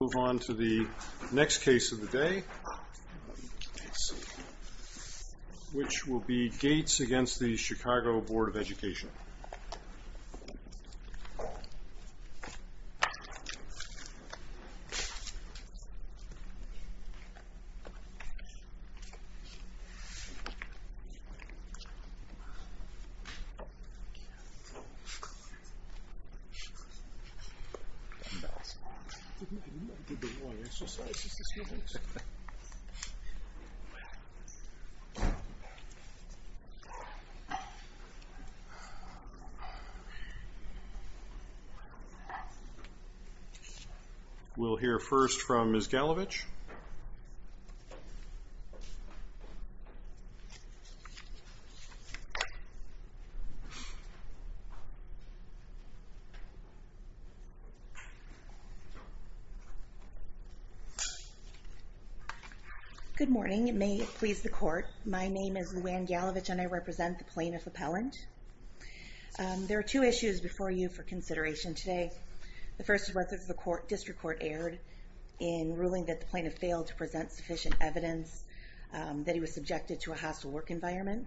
Let's move on to the next case of the day, which will be Gates v. Chicago Board of Education. We'll hear first from Ms. Galovich. Good morning. May it please the court, my name is Luann Galovich and I represent the plaintiff appellant. There are two issues before you for consideration today. The first is whether the district court erred in ruling that the plaintiff failed to present sufficient evidence that he was subjected to a hostile work environment.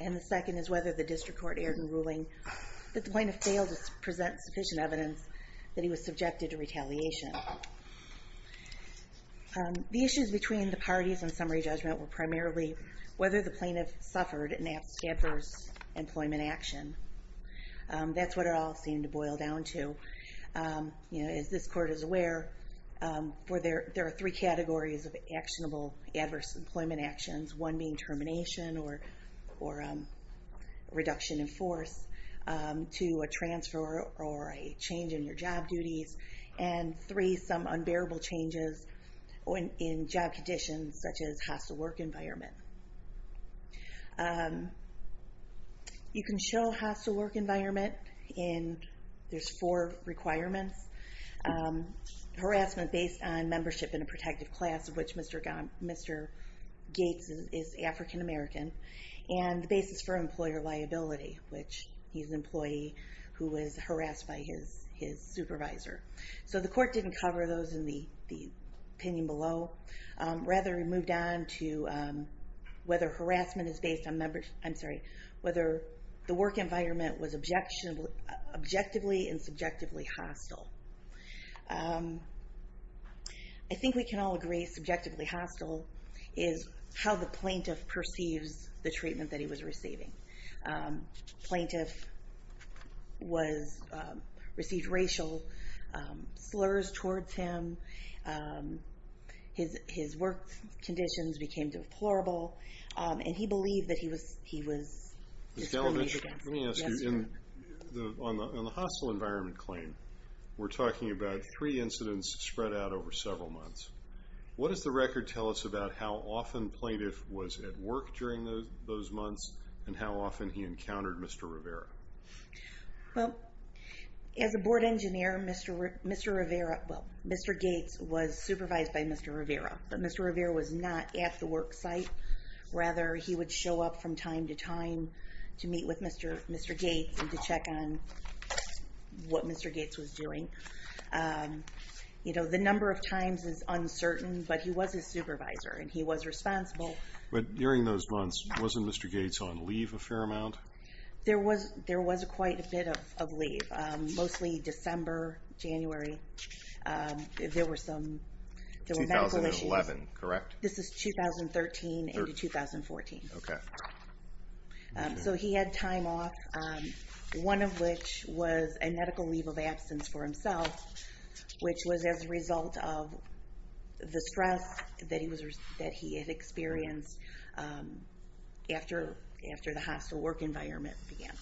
And the second is whether the district court erred in ruling that the plaintiff failed to present sufficient evidence that he was subjected to retaliation. The issues between the parties in summary judgment were primarily whether the plaintiff suffered an adverse employment action. That's what it all seemed to boil down to. As this court is aware, there are three categories of actionable adverse employment actions. One being termination or reduction in force. Two, a transfer or a change in your job duties. And three, some unbearable changes in job conditions such as hostile work environment. You can show hostile work environment and there's four requirements. Harassment based on membership in a protective class, of which Mr. Gates is African American. And the basis for employer liability, which he's an employee who was harassed by his supervisor. So the court didn't cover those in the opinion below. Rather, it moved on to whether harassment is based on membership, I'm sorry, whether the work environment was objectively and subjectively hostile. I think we can all agree subjectively hostile is how the plaintiff perceives the treatment that he was receiving. Plaintiff received racial slurs towards him. His work conditions became deplorable. And he believed that he was discriminated against. Let me ask you, on the hostile environment claim, we're talking about three incidents spread out over several months. What does the record tell us about how often plaintiff was at work during those months and how often he encountered Mr. Rivera? Well, as a board engineer, Mr. Rivera, well, Mr. Gates was supervised by Mr. Rivera. But Mr. Rivera was not at the work site. Rather, he would show up from time to time to meet with Mr. Gates and to check on what Mr. Gates was doing. You know, the number of times is uncertain, but he was his supervisor and he was responsible. But during those months, wasn't Mr. Gates on leave a fair amount? There was quite a bit of leave, mostly December, January. There were some medical issues. 2011, correct? This is 2013 into 2014. Okay. So he had time off, one of which was a medical leave of absence for himself, which was as a result of the stress that he had experienced after the hostile work environment began.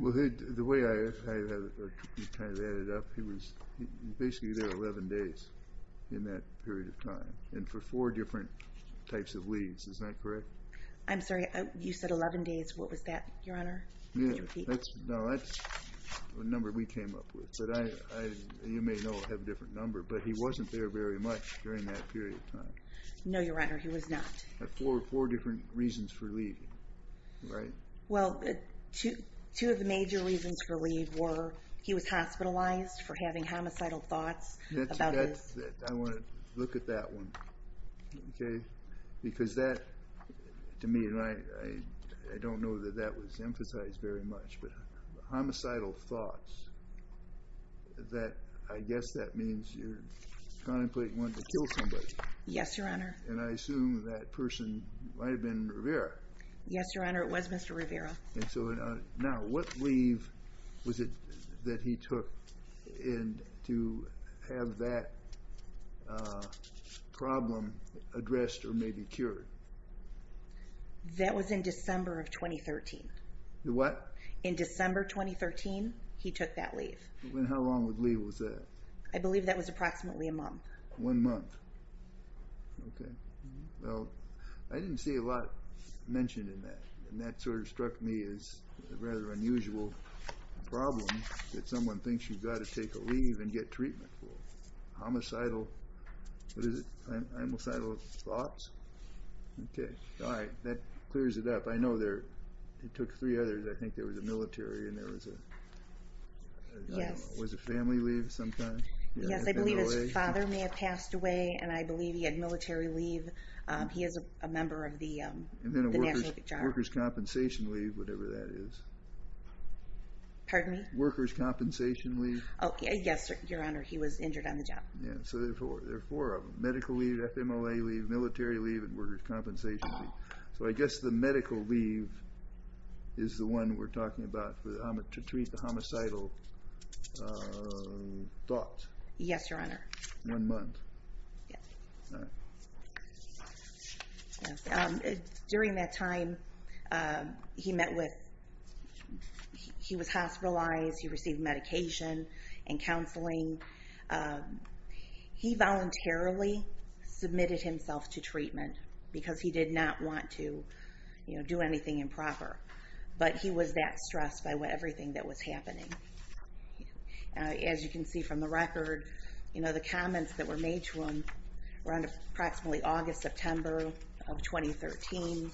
Well, the way I kind of add it up, he was basically there 11 days in that period of time. And for four different types of leaves. Is that correct? I'm sorry. You said 11 days. What was that, Your Honor? No, that's a number we came up with. But you may know I have a different number. But he wasn't there very much during that period of time. No, Your Honor. He was not. Four different reasons for leaving, right? Well, two of the major reasons for leave were he was hospitalized for having homicidal thoughts. I want to look at that one, okay? Because that, to me, and I don't know that that was emphasized very much, but homicidal thoughts, I guess that means you're contemplating wanting to kill somebody. Yes, Your Honor. And I assume that person might have been Rivera. Yes, Your Honor. It was Mr. Rivera. Now, what leave was it that he took to have that problem addressed or maybe cured? That was in December of 2013. What? In December 2013, he took that leave. And how long of a leave was that? I believe that was approximately a month. One month. Okay. Well, I didn't see a lot mentioned in that, and that sort of struck me as a rather unusual problem that someone thinks you've got to take a leave and get treatment for. Homicidal, what is it, homicidal thoughts? Okay. All right. That clears it up. I know it took three others. I think there was a military and there was a family leave sometime. Yes, I believe his father may have passed away, and I believe he had military leave. He is a member of the National Guard. And then a workers' compensation leave, whatever that is. Pardon me? Workers' compensation leave. Yes, Your Honor. He was injured on the job. So there are four of them, medical leave, FMLA leave, military leave, and workers' compensation leave. So I guess the medical leave is the one we're talking about to treat the homicidal thoughts. Yes, Your Honor. One month. Yes. All right. During that time, he was hospitalized. He received medication and counseling. He voluntarily submitted himself to treatment because he did not want to do anything improper. But he was that stressed by everything that was happening. As you can see from the record, the comments that were made to him were on approximately August, September of 2013.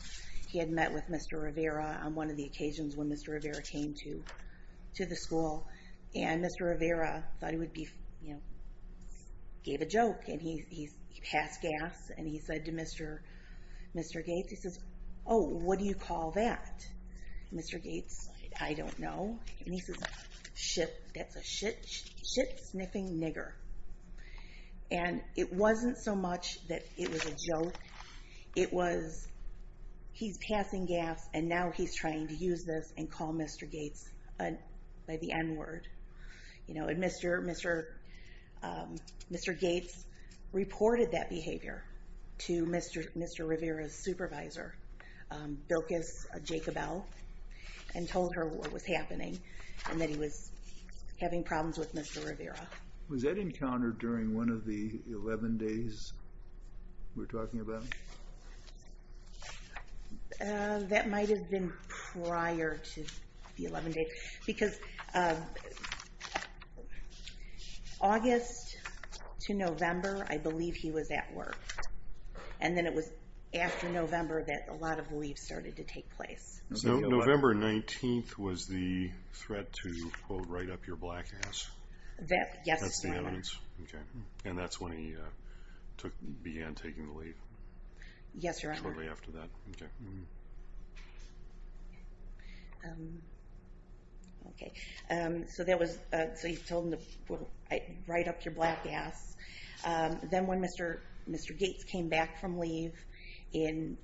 He had met with Mr. Rivera on one of the occasions when Mr. Rivera came to the school. And Mr. Rivera thought he would be, you know, gave a joke. And he passed gas, and he said to Mr. Gates, he says, oh, what do you call that? Mr. Gates, I don't know. And he says, shit, that's a shit-sniffing nigger. And it wasn't so much that it was a joke. It was he's passing gas, and now he's trying to use this and call Mr. Gates by the N-word. You know, and Mr. Gates reported that behavior to Mr. Rivera's supervisor, Bilkus Jacobel, and told her what was happening, and that he was having problems with Mr. Rivera. Was that encountered during one of the 11 days we're talking about? That might have been prior to the 11 days. Because August to November, I believe he was at work. And then it was after November that a lot of leaves started to take place. November 19th was the threat to, quote, write up your black ass. That's the evidence. And that's when he began taking the leave. Yes, Your Honor. Shortly after that. Okay. So he told him to write up your black ass. Then when Mr. Gates came back from leave in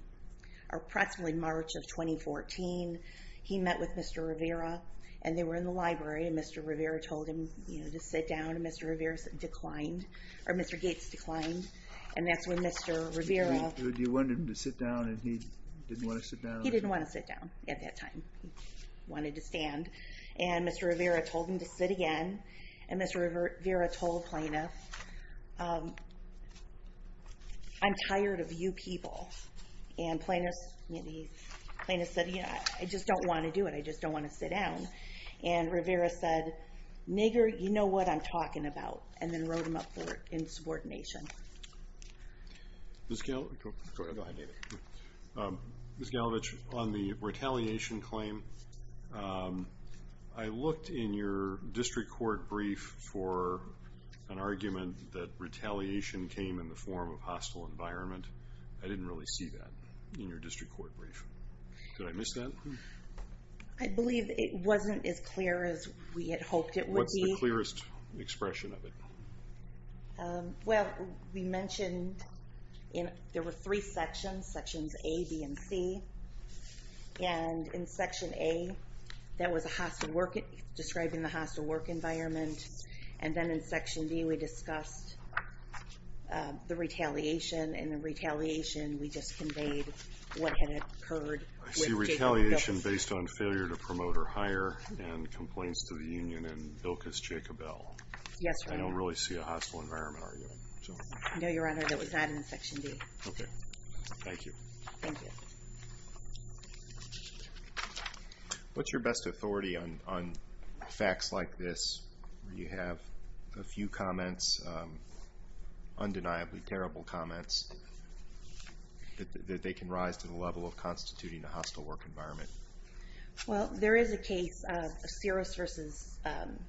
approximately March of 2014, he met with Mr. Rivera, and they were in the library. And Mr. Rivera told him to sit down, and Mr. Rivera declined. Or Mr. Gates declined. And that's when Mr. Rivera... You wanted him to sit down, and he didn't want to sit down? He didn't want to sit down at that time. He wanted to stand. And Mr. Rivera told him to sit again. And Mr. Rivera told Plaintiff, I'm tired of you people. And Plaintiff said, I just don't want to do it. I just don't want to sit down. And Rivera said, nigger, you know what I'm talking about. And then wrote him up for insubordination. Ms. Galevich, on the retaliation claim, I looked in your district court brief for an argument that retaliation came in the form of hostile environment. I didn't really see that in your district court brief. Did I miss that? I believe it wasn't as clear as we had hoped it would be. What's the clearest expression of it? Well, we mentioned there were three sections, sections A, B, and C. And in section A, that was describing the hostile work environment. And then in section B, we discussed the retaliation. And the retaliation, we just conveyed what had occurred with Jacob Bilkis. I see retaliation based on failure to promote or hire and complaints to the union and Bilkis, Jacob L. Yes, Your Honor. I don't really see a hostile environment argument. No, Your Honor, that was not in section B. Okay. Thank you. Thank you. What's your best authority on facts like this where you have a few comments, undeniably terrible comments, that they can rise to the level of constituting a hostile work environment? Well, there is a case of Sears v.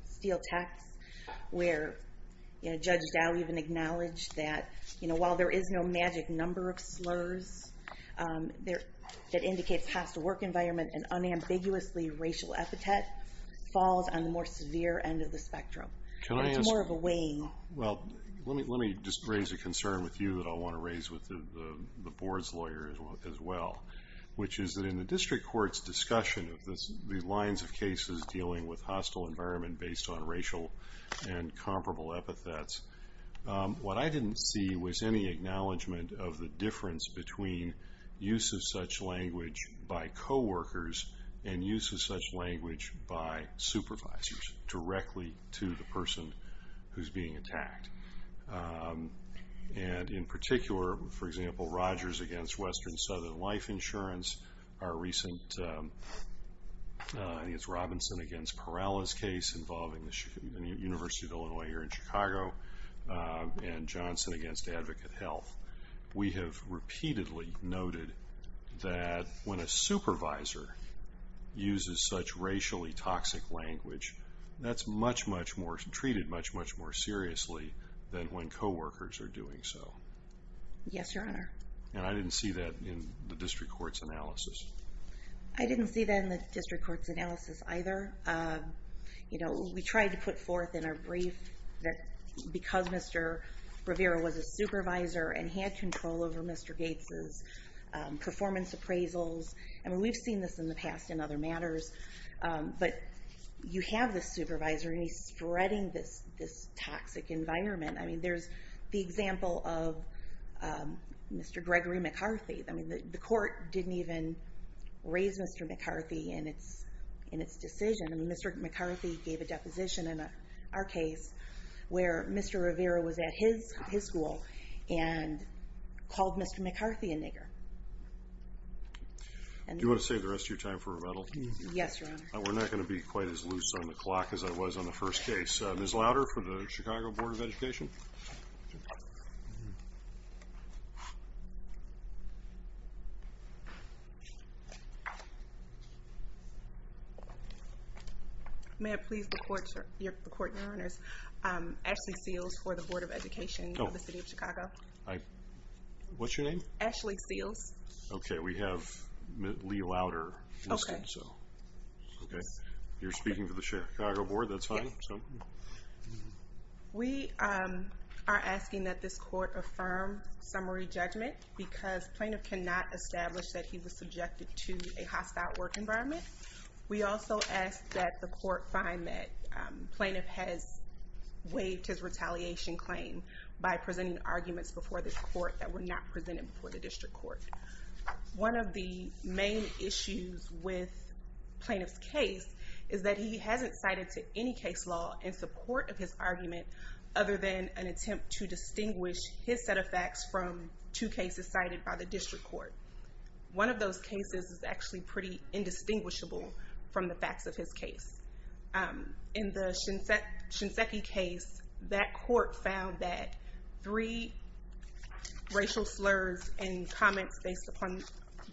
Steel Tax where Judge Dow even acknowledged that while there is no magic number of slurs that indicates hostile work environment, an unambiguously racial epithet falls on the more severe end of the spectrum. Can I ask? It's more of a weighing. Well, let me just raise a concern with you that I want to raise with the Board's lawyers as well, which is that in the district court's discussion of the lines of cases dealing with hostile environment based on racial and comparable epithets, what I didn't see was any acknowledgement of the difference between use of such language by coworkers and use of such language by supervisors directly to the person who's being attacked. And in particular, for example, Rogers v. Western Southern Life Insurance, our recent Robinson v. Perala's case involving the University of Illinois here in Chicago, and Johnson v. Advocate Health, we have repeatedly noted that when a supervisor uses such racially toxic language, that's treated much, much more seriously than when coworkers are doing so. Yes, Your Honor. And I didn't see that in the district court's analysis. I didn't see that in the district court's analysis either. We tried to put forth in our brief that because Mr. Rivera was a supervisor and he had control over Mr. Gates' performance appraisals, and we've seen this in the past in other matters, but you have this supervisor and he's spreading this toxic environment. There's the example of Mr. Gregory McCarthy. I mean, the court didn't even raise Mr. McCarthy in its decision. I mean, Mr. McCarthy gave a deposition in our case where Mr. Rivera was at his school and called Mr. McCarthy a nigger. Do you want to save the rest of your time for rebuttal? Yes, Your Honor. We're not going to be quite as loose on the clock as I was on the first case. Ms. Louder for the Chicago Board of Education. May I please report, Your Honor, Ashley Seals for the Board of Education of the City of Chicago. What's your name? Ashley Seals. Okay. We have Lee Louder listed. Okay. You're speaking for the Chicago Board. That's fine. We are asking that this court affirm summary judgment because plaintiff cannot establish that he was subjected to a hostile work environment. We also ask that the court find that plaintiff has waived his retaliation claim by presenting arguments before this court that were not presented before the district court. One of the main issues with plaintiff's case is that he hasn't cited to any case law in support of his argument other than an attempt to distinguish his set of facts from two cases cited by the district court. One of those cases is actually pretty indistinguishable from the facts of his case. In the Shinseki case, that court found that three racial slurs and comments based upon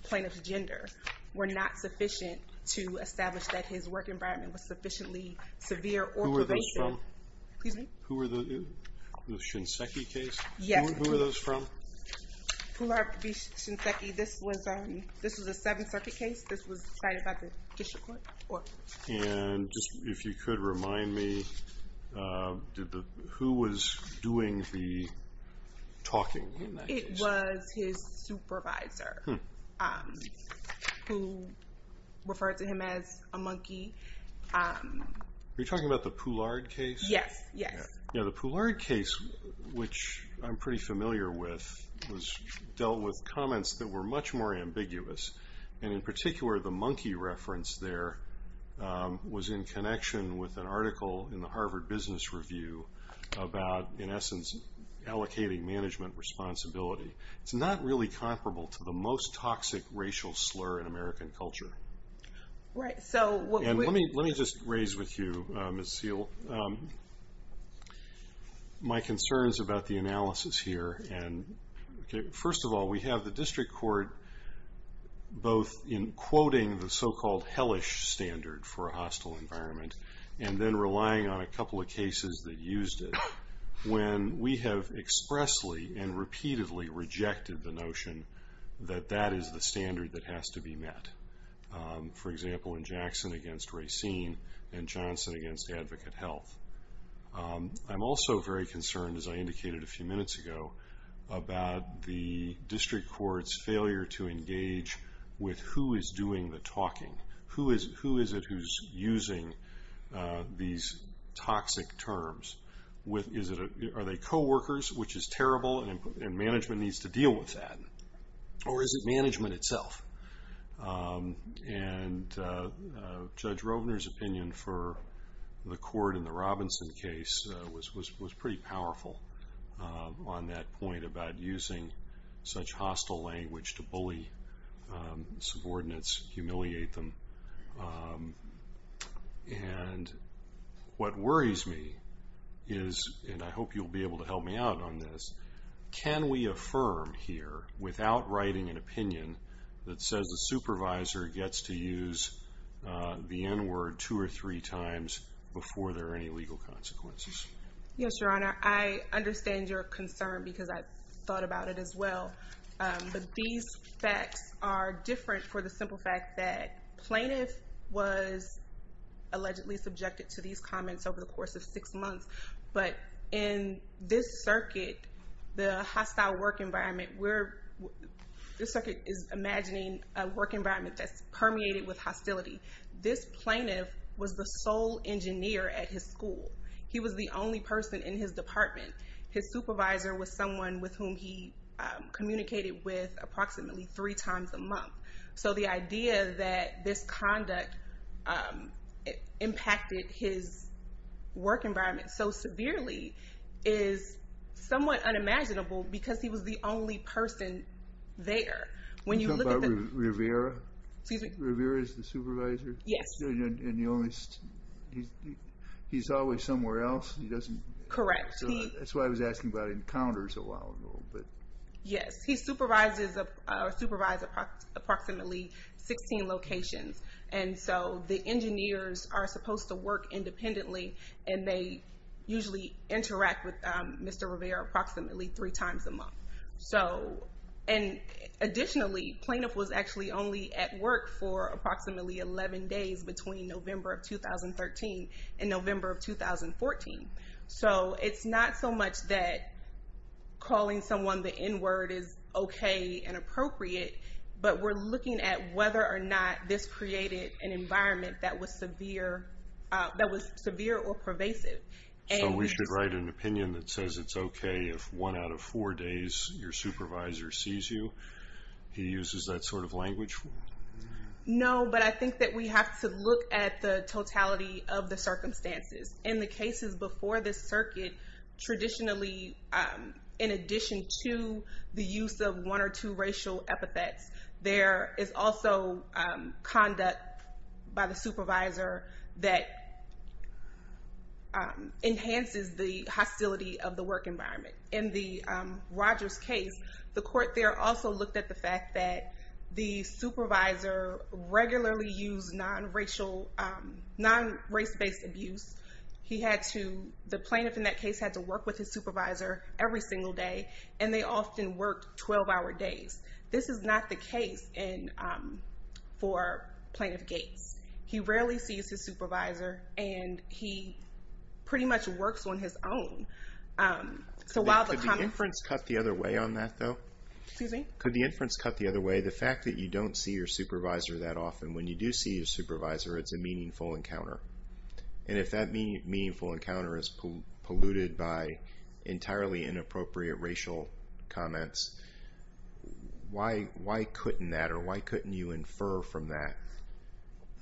plaintiff's gender were not sufficient to establish that his work environment was sufficiently severe or pervasive. Who were those from? Excuse me? The Shinseki case? Yes. Who were those from? Poulard v. Shinseki. This was a Seventh Circuit case. This was cited by the district court. If you could remind me, who was doing the talking in that case? It was his supervisor who referred to him as a monkey. Are you talking about the Poulard case? Yes. The Poulard case, which I'm pretty familiar with, was dealt with comments that were much more ambiguous. In particular, the monkey reference there was in connection with an article in the Harvard Business Review about, in essence, allocating management responsibility. It's not really comparable to the most toxic racial slur in American culture. Let me just raise with you, Ms. Seale, my concerns about the analysis here. First of all, we have the district court both in quoting the so-called hellish standard for a hostile environment and then relying on a couple of cases that used it when we have expressly and repeatedly rejected the notion that that is the standard that has to be met. For example, in Jackson against Racine and Johnson against Advocate Health. I'm also very concerned, as I indicated a few minutes ago, about the district court's failure to engage with who is doing the talking. Who is it who's using these toxic terms? Are they coworkers, which is terrible, and management needs to deal with that? Or is it management itself? And Judge Rovner's opinion for the court in the Robinson case was pretty powerful on that point about using such hostile language to bully subordinates, humiliate them. And what worries me is, and I hope you'll be able to help me out on this, can we affirm here without writing an opinion that says the supervisor gets to use the N-word two or three times before there are any legal consequences? Yes, Your Honor. I understand your concern because I've thought about it as well. But these facts are different for the simple fact that plaintiff was allegedly subjected to these comments over the course of six months. But in this circuit, the hostile work environment, this circuit is imagining a work environment that's permeated with hostility. This plaintiff was the sole engineer at his school. He was the only person in his department. His supervisor was someone with whom he communicated with approximately three times a month. So the idea that this conduct impacted his work environment so severely is somewhat unimaginable because he was the only person there. Are you talking about Rivera? Excuse me? Rivera is the supervisor? Yes. And he's always somewhere else? Correct. That's why I was asking about encounters a while ago. Yes. He supervises approximately 16 locations. And so the engineers are supposed to work independently, and they usually interact with Mr. Rivera approximately three times a month. Additionally, plaintiff was actually only at work for approximately 11 days between November of 2013 and November of 2014. So it's not so much that calling someone the N-word is okay and appropriate, but we're looking at whether or not this created an environment that was severe or pervasive. So we should write an opinion that says it's okay if one out of four days your supervisor sees you? He uses that sort of language? No, but I think that we have to look at the totality of the circumstances. In the cases before this circuit, traditionally, in addition to the use of one or two racial epithets, there is also conduct by the supervisor that enhances the hostility of the work environment. In the Rogers case, the court there also looked at the fact that the supervisor regularly used non-race-based abuse. The plaintiff in that case had to work with his supervisor every single day, and they often worked 12-hour days. This is not the case for Plaintiff Gates. He rarely sees his supervisor, and he pretty much works on his own. Could the inference cut the other way on that, though? Excuse me? Could the inference cut the other way? The fact that you don't see your supervisor that often. When you do see your supervisor, it's a meaningful encounter, and if that meaningful encounter is polluted by entirely inappropriate racial comments, why couldn't that, or why couldn't you infer from that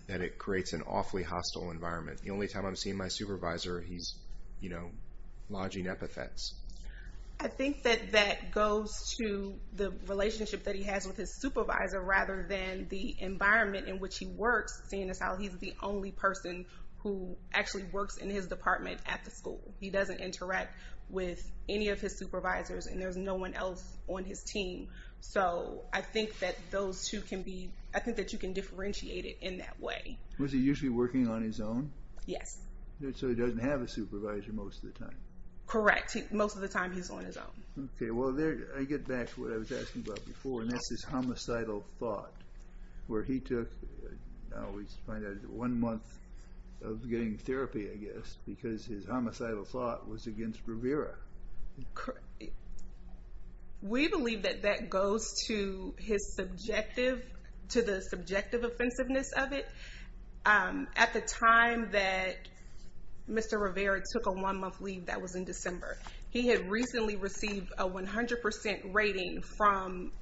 that it creates an awfully hostile environment? The only time I'm seeing my supervisor, he's, you know, lodging epithets. I think that that goes to the relationship that he has with his supervisor, rather than the environment in which he works. Seeing as how he's the only person who actually works in his department at the school. He doesn't interact with any of his supervisors, and there's no one else on his team. So I think that those two can be, I think that you can differentiate it in that way. Was he usually working on his own? Yes. So he doesn't have a supervisor most of the time. Correct. Most of the time he's on his own. Okay. Well, there, I get back to what I was asking about before, and that's his homicidal thought, where he took, I always find out, one month of getting therapy, I guess, because his homicidal thought was against Rivera. We believe that that goes to his subjective, to the subjective offensiveness of it. At the time that Mr. Rivera took a one-month leave, that was in December, he had recently received a 100% rating from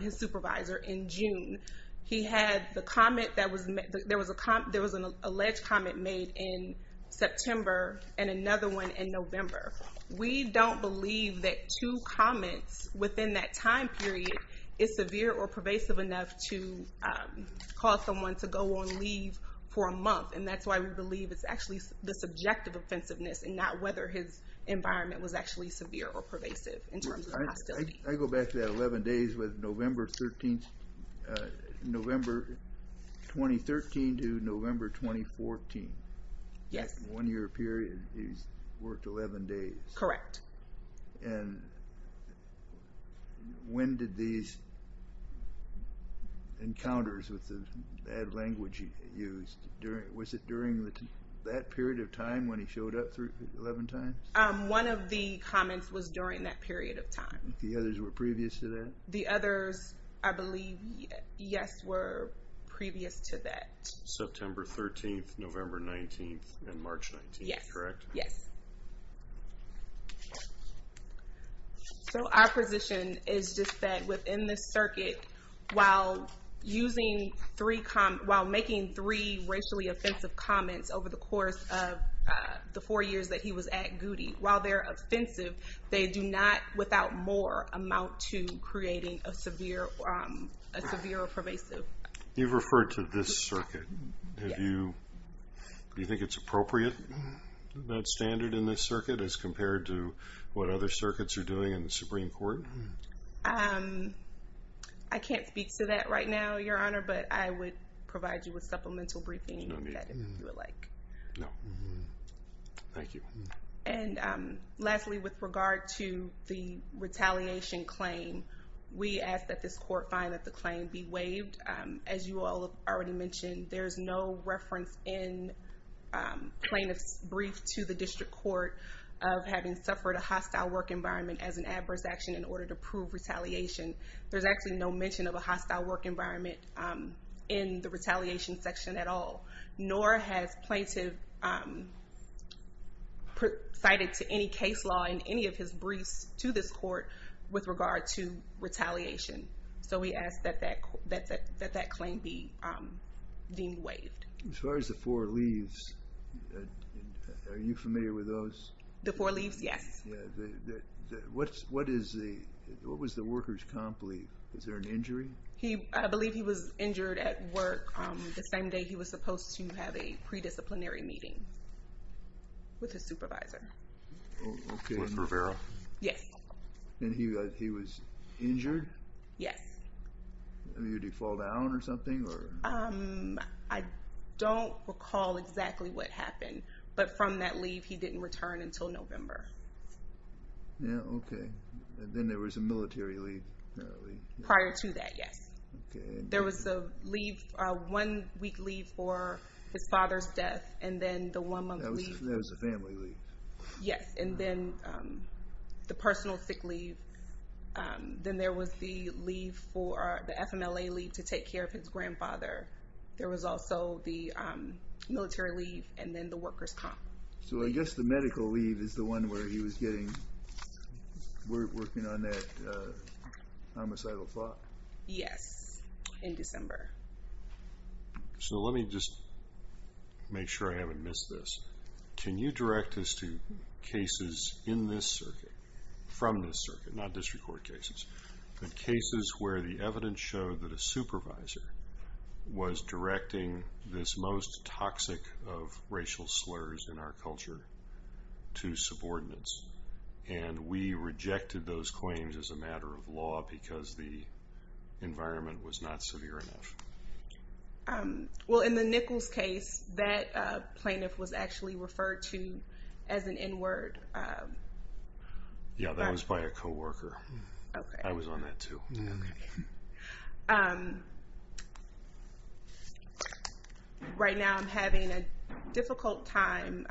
his supervisor in June. He had the comment that was, there was an alleged comment made in September, and another one in November. We don't believe that two comments within that time period is severe or pervasive enough to cause someone to go on leave for a month, and that's why we believe it's actually the subjective offensiveness and not whether his environment was actually severe or pervasive in terms of hostility. I go back to that 11 days with November 2013 to November 2014. Yes. In one year period, he's worked 11 days. Correct. And when did these encounters with the bad language he used, was it during that period of time when he showed up 11 times? One of the comments was during that period of time. The others were previous to that? The others, I believe, yes, were previous to that. September 13th, November 19th, and March 19th, correct? Yes. So our position is just that within this circuit, while making three racially offensive comments over the course of the four years that he was at Goody, while they're offensive, they do not, without more, amount to creating a severe or pervasive. You've referred to this circuit. Do you think it's appropriate, that standard in this circuit, as compared to what other circuits are doing in the Supreme Court? I can't speak to that right now, Your Honor, but I would provide you with supplemental briefing if you would like. No. Thank you. And lastly, with regard to the retaliation claim, we ask that this court find that the claim be waived. As you all have already mentioned, there's no reference in plaintiff's brief to the district court of having suffered a hostile work environment as an adverse action in order to prove retaliation. There's actually no mention of a hostile work environment in the retaliation section at all, nor has plaintiff cited to any case law in any of his briefs to this court with regard to retaliation. So we ask that that claim be deemed waived. As far as the four leaves, are you familiar with those? The four leaves, yes. What was the worker's comp leave? Was there an injury? I believe he was injured at work the same day he was supposed to have a predisciplinary meeting with his supervisor. With Rivera? Yes. And he was injured? Yes. Did he fall down or something? I don't recall exactly what happened, but from that leave he didn't return until November. Yeah, okay. Then there was a military leave, apparently. Prior to that, yes. There was a one-week leave for his father's death and then the one-month leave. That was a family leave. Yes, and then the personal sick leave. Then there was the FMLA leave to take care of his grandfather. There was also the military leave and then the worker's comp. So I guess the medical leave is the one where he was working on that homicidal thought? Yes, in December. So let me just make sure I haven't missed this. Can you direct us to cases in this circuit, from this circuit, not district court cases, but cases where the evidence showed that a supervisor was directing this most toxic of racial slurs in our culture to subordinates, and we rejected those claims as a matter of law because the environment was not severe enough? Well, in the Nichols case, that plaintiff was actually referred to as an N-word. Yes, that was by a co-worker. I was on that too. Right now I'm having a difficult time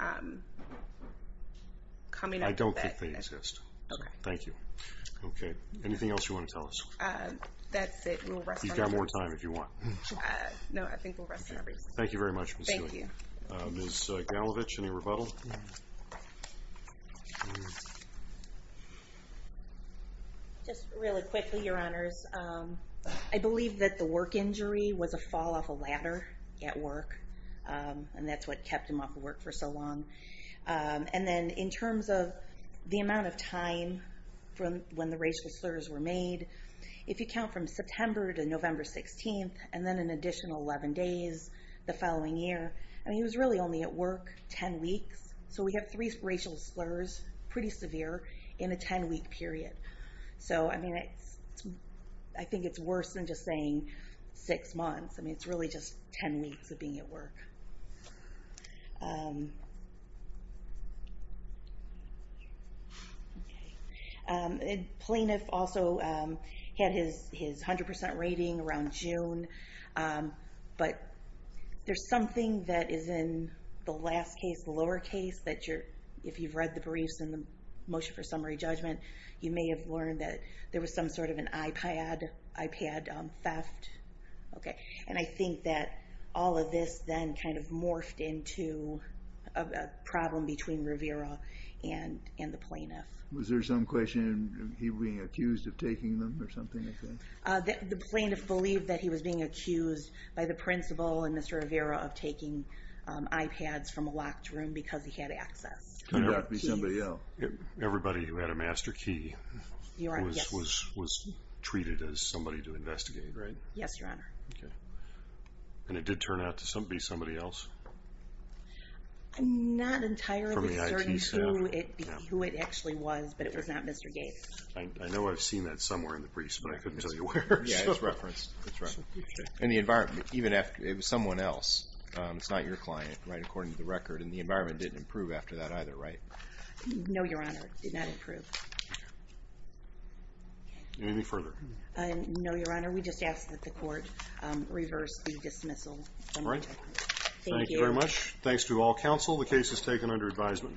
coming up with that. I don't think they exist. Okay. Thank you. Okay. Anything else you want to tell us? That's it. You've got more time if you want. No, I think we'll rest for now. Thank you very much. Thank you. Ms. Galovich, any rebuttal? No. Just really quickly, Your Honors. I believe that the work injury was a fall off a ladder at work, and that's what kept him off of work for so long. And then in terms of the amount of time when the racial slurs were made, if you count from September to November 16th, and then an additional 11 days the following year, I mean, he was really only at work 10 weeks. So we have three racial slurs, pretty severe, in a 10-week period. So, I mean, I think it's worse than just saying six months. I mean, it's really just 10 weeks of being at work. Okay. Plaintiff also had his 100% rating around June, but there's something that is in the last case, the lower case, that if you've read the briefs and the motion for summary judgment, you may have learned that there was some sort of an iPad theft. Okay. And I think that all of this then kind of morphed into a problem between Rivera and the plaintiff. Was there some question of him being accused of taking them or something like that? The plaintiff believed that he was being accused by the principal and Mr. Rivera of taking iPads from a locked room because he had access. Could that be somebody else? Everybody who had a master key was treated as somebody to investigate, right? Yes, Your Honor. Okay. And it did turn out to be somebody else? I'm not entirely certain who it actually was, but it was not Mr. Gates. I know I've seen that somewhere in the briefs, but I couldn't tell you where. Yeah, it's referenced. And the environment, even if it was someone else, it's not your client, right, according to the record, and the environment didn't improve after that either, right? No, Your Honor, it did not improve. Anything further? No, Your Honor, we just ask that the court reverse the dismissal. All right. Thank you. Thank you very much. Thanks to all counsel. The case is taken under advisement.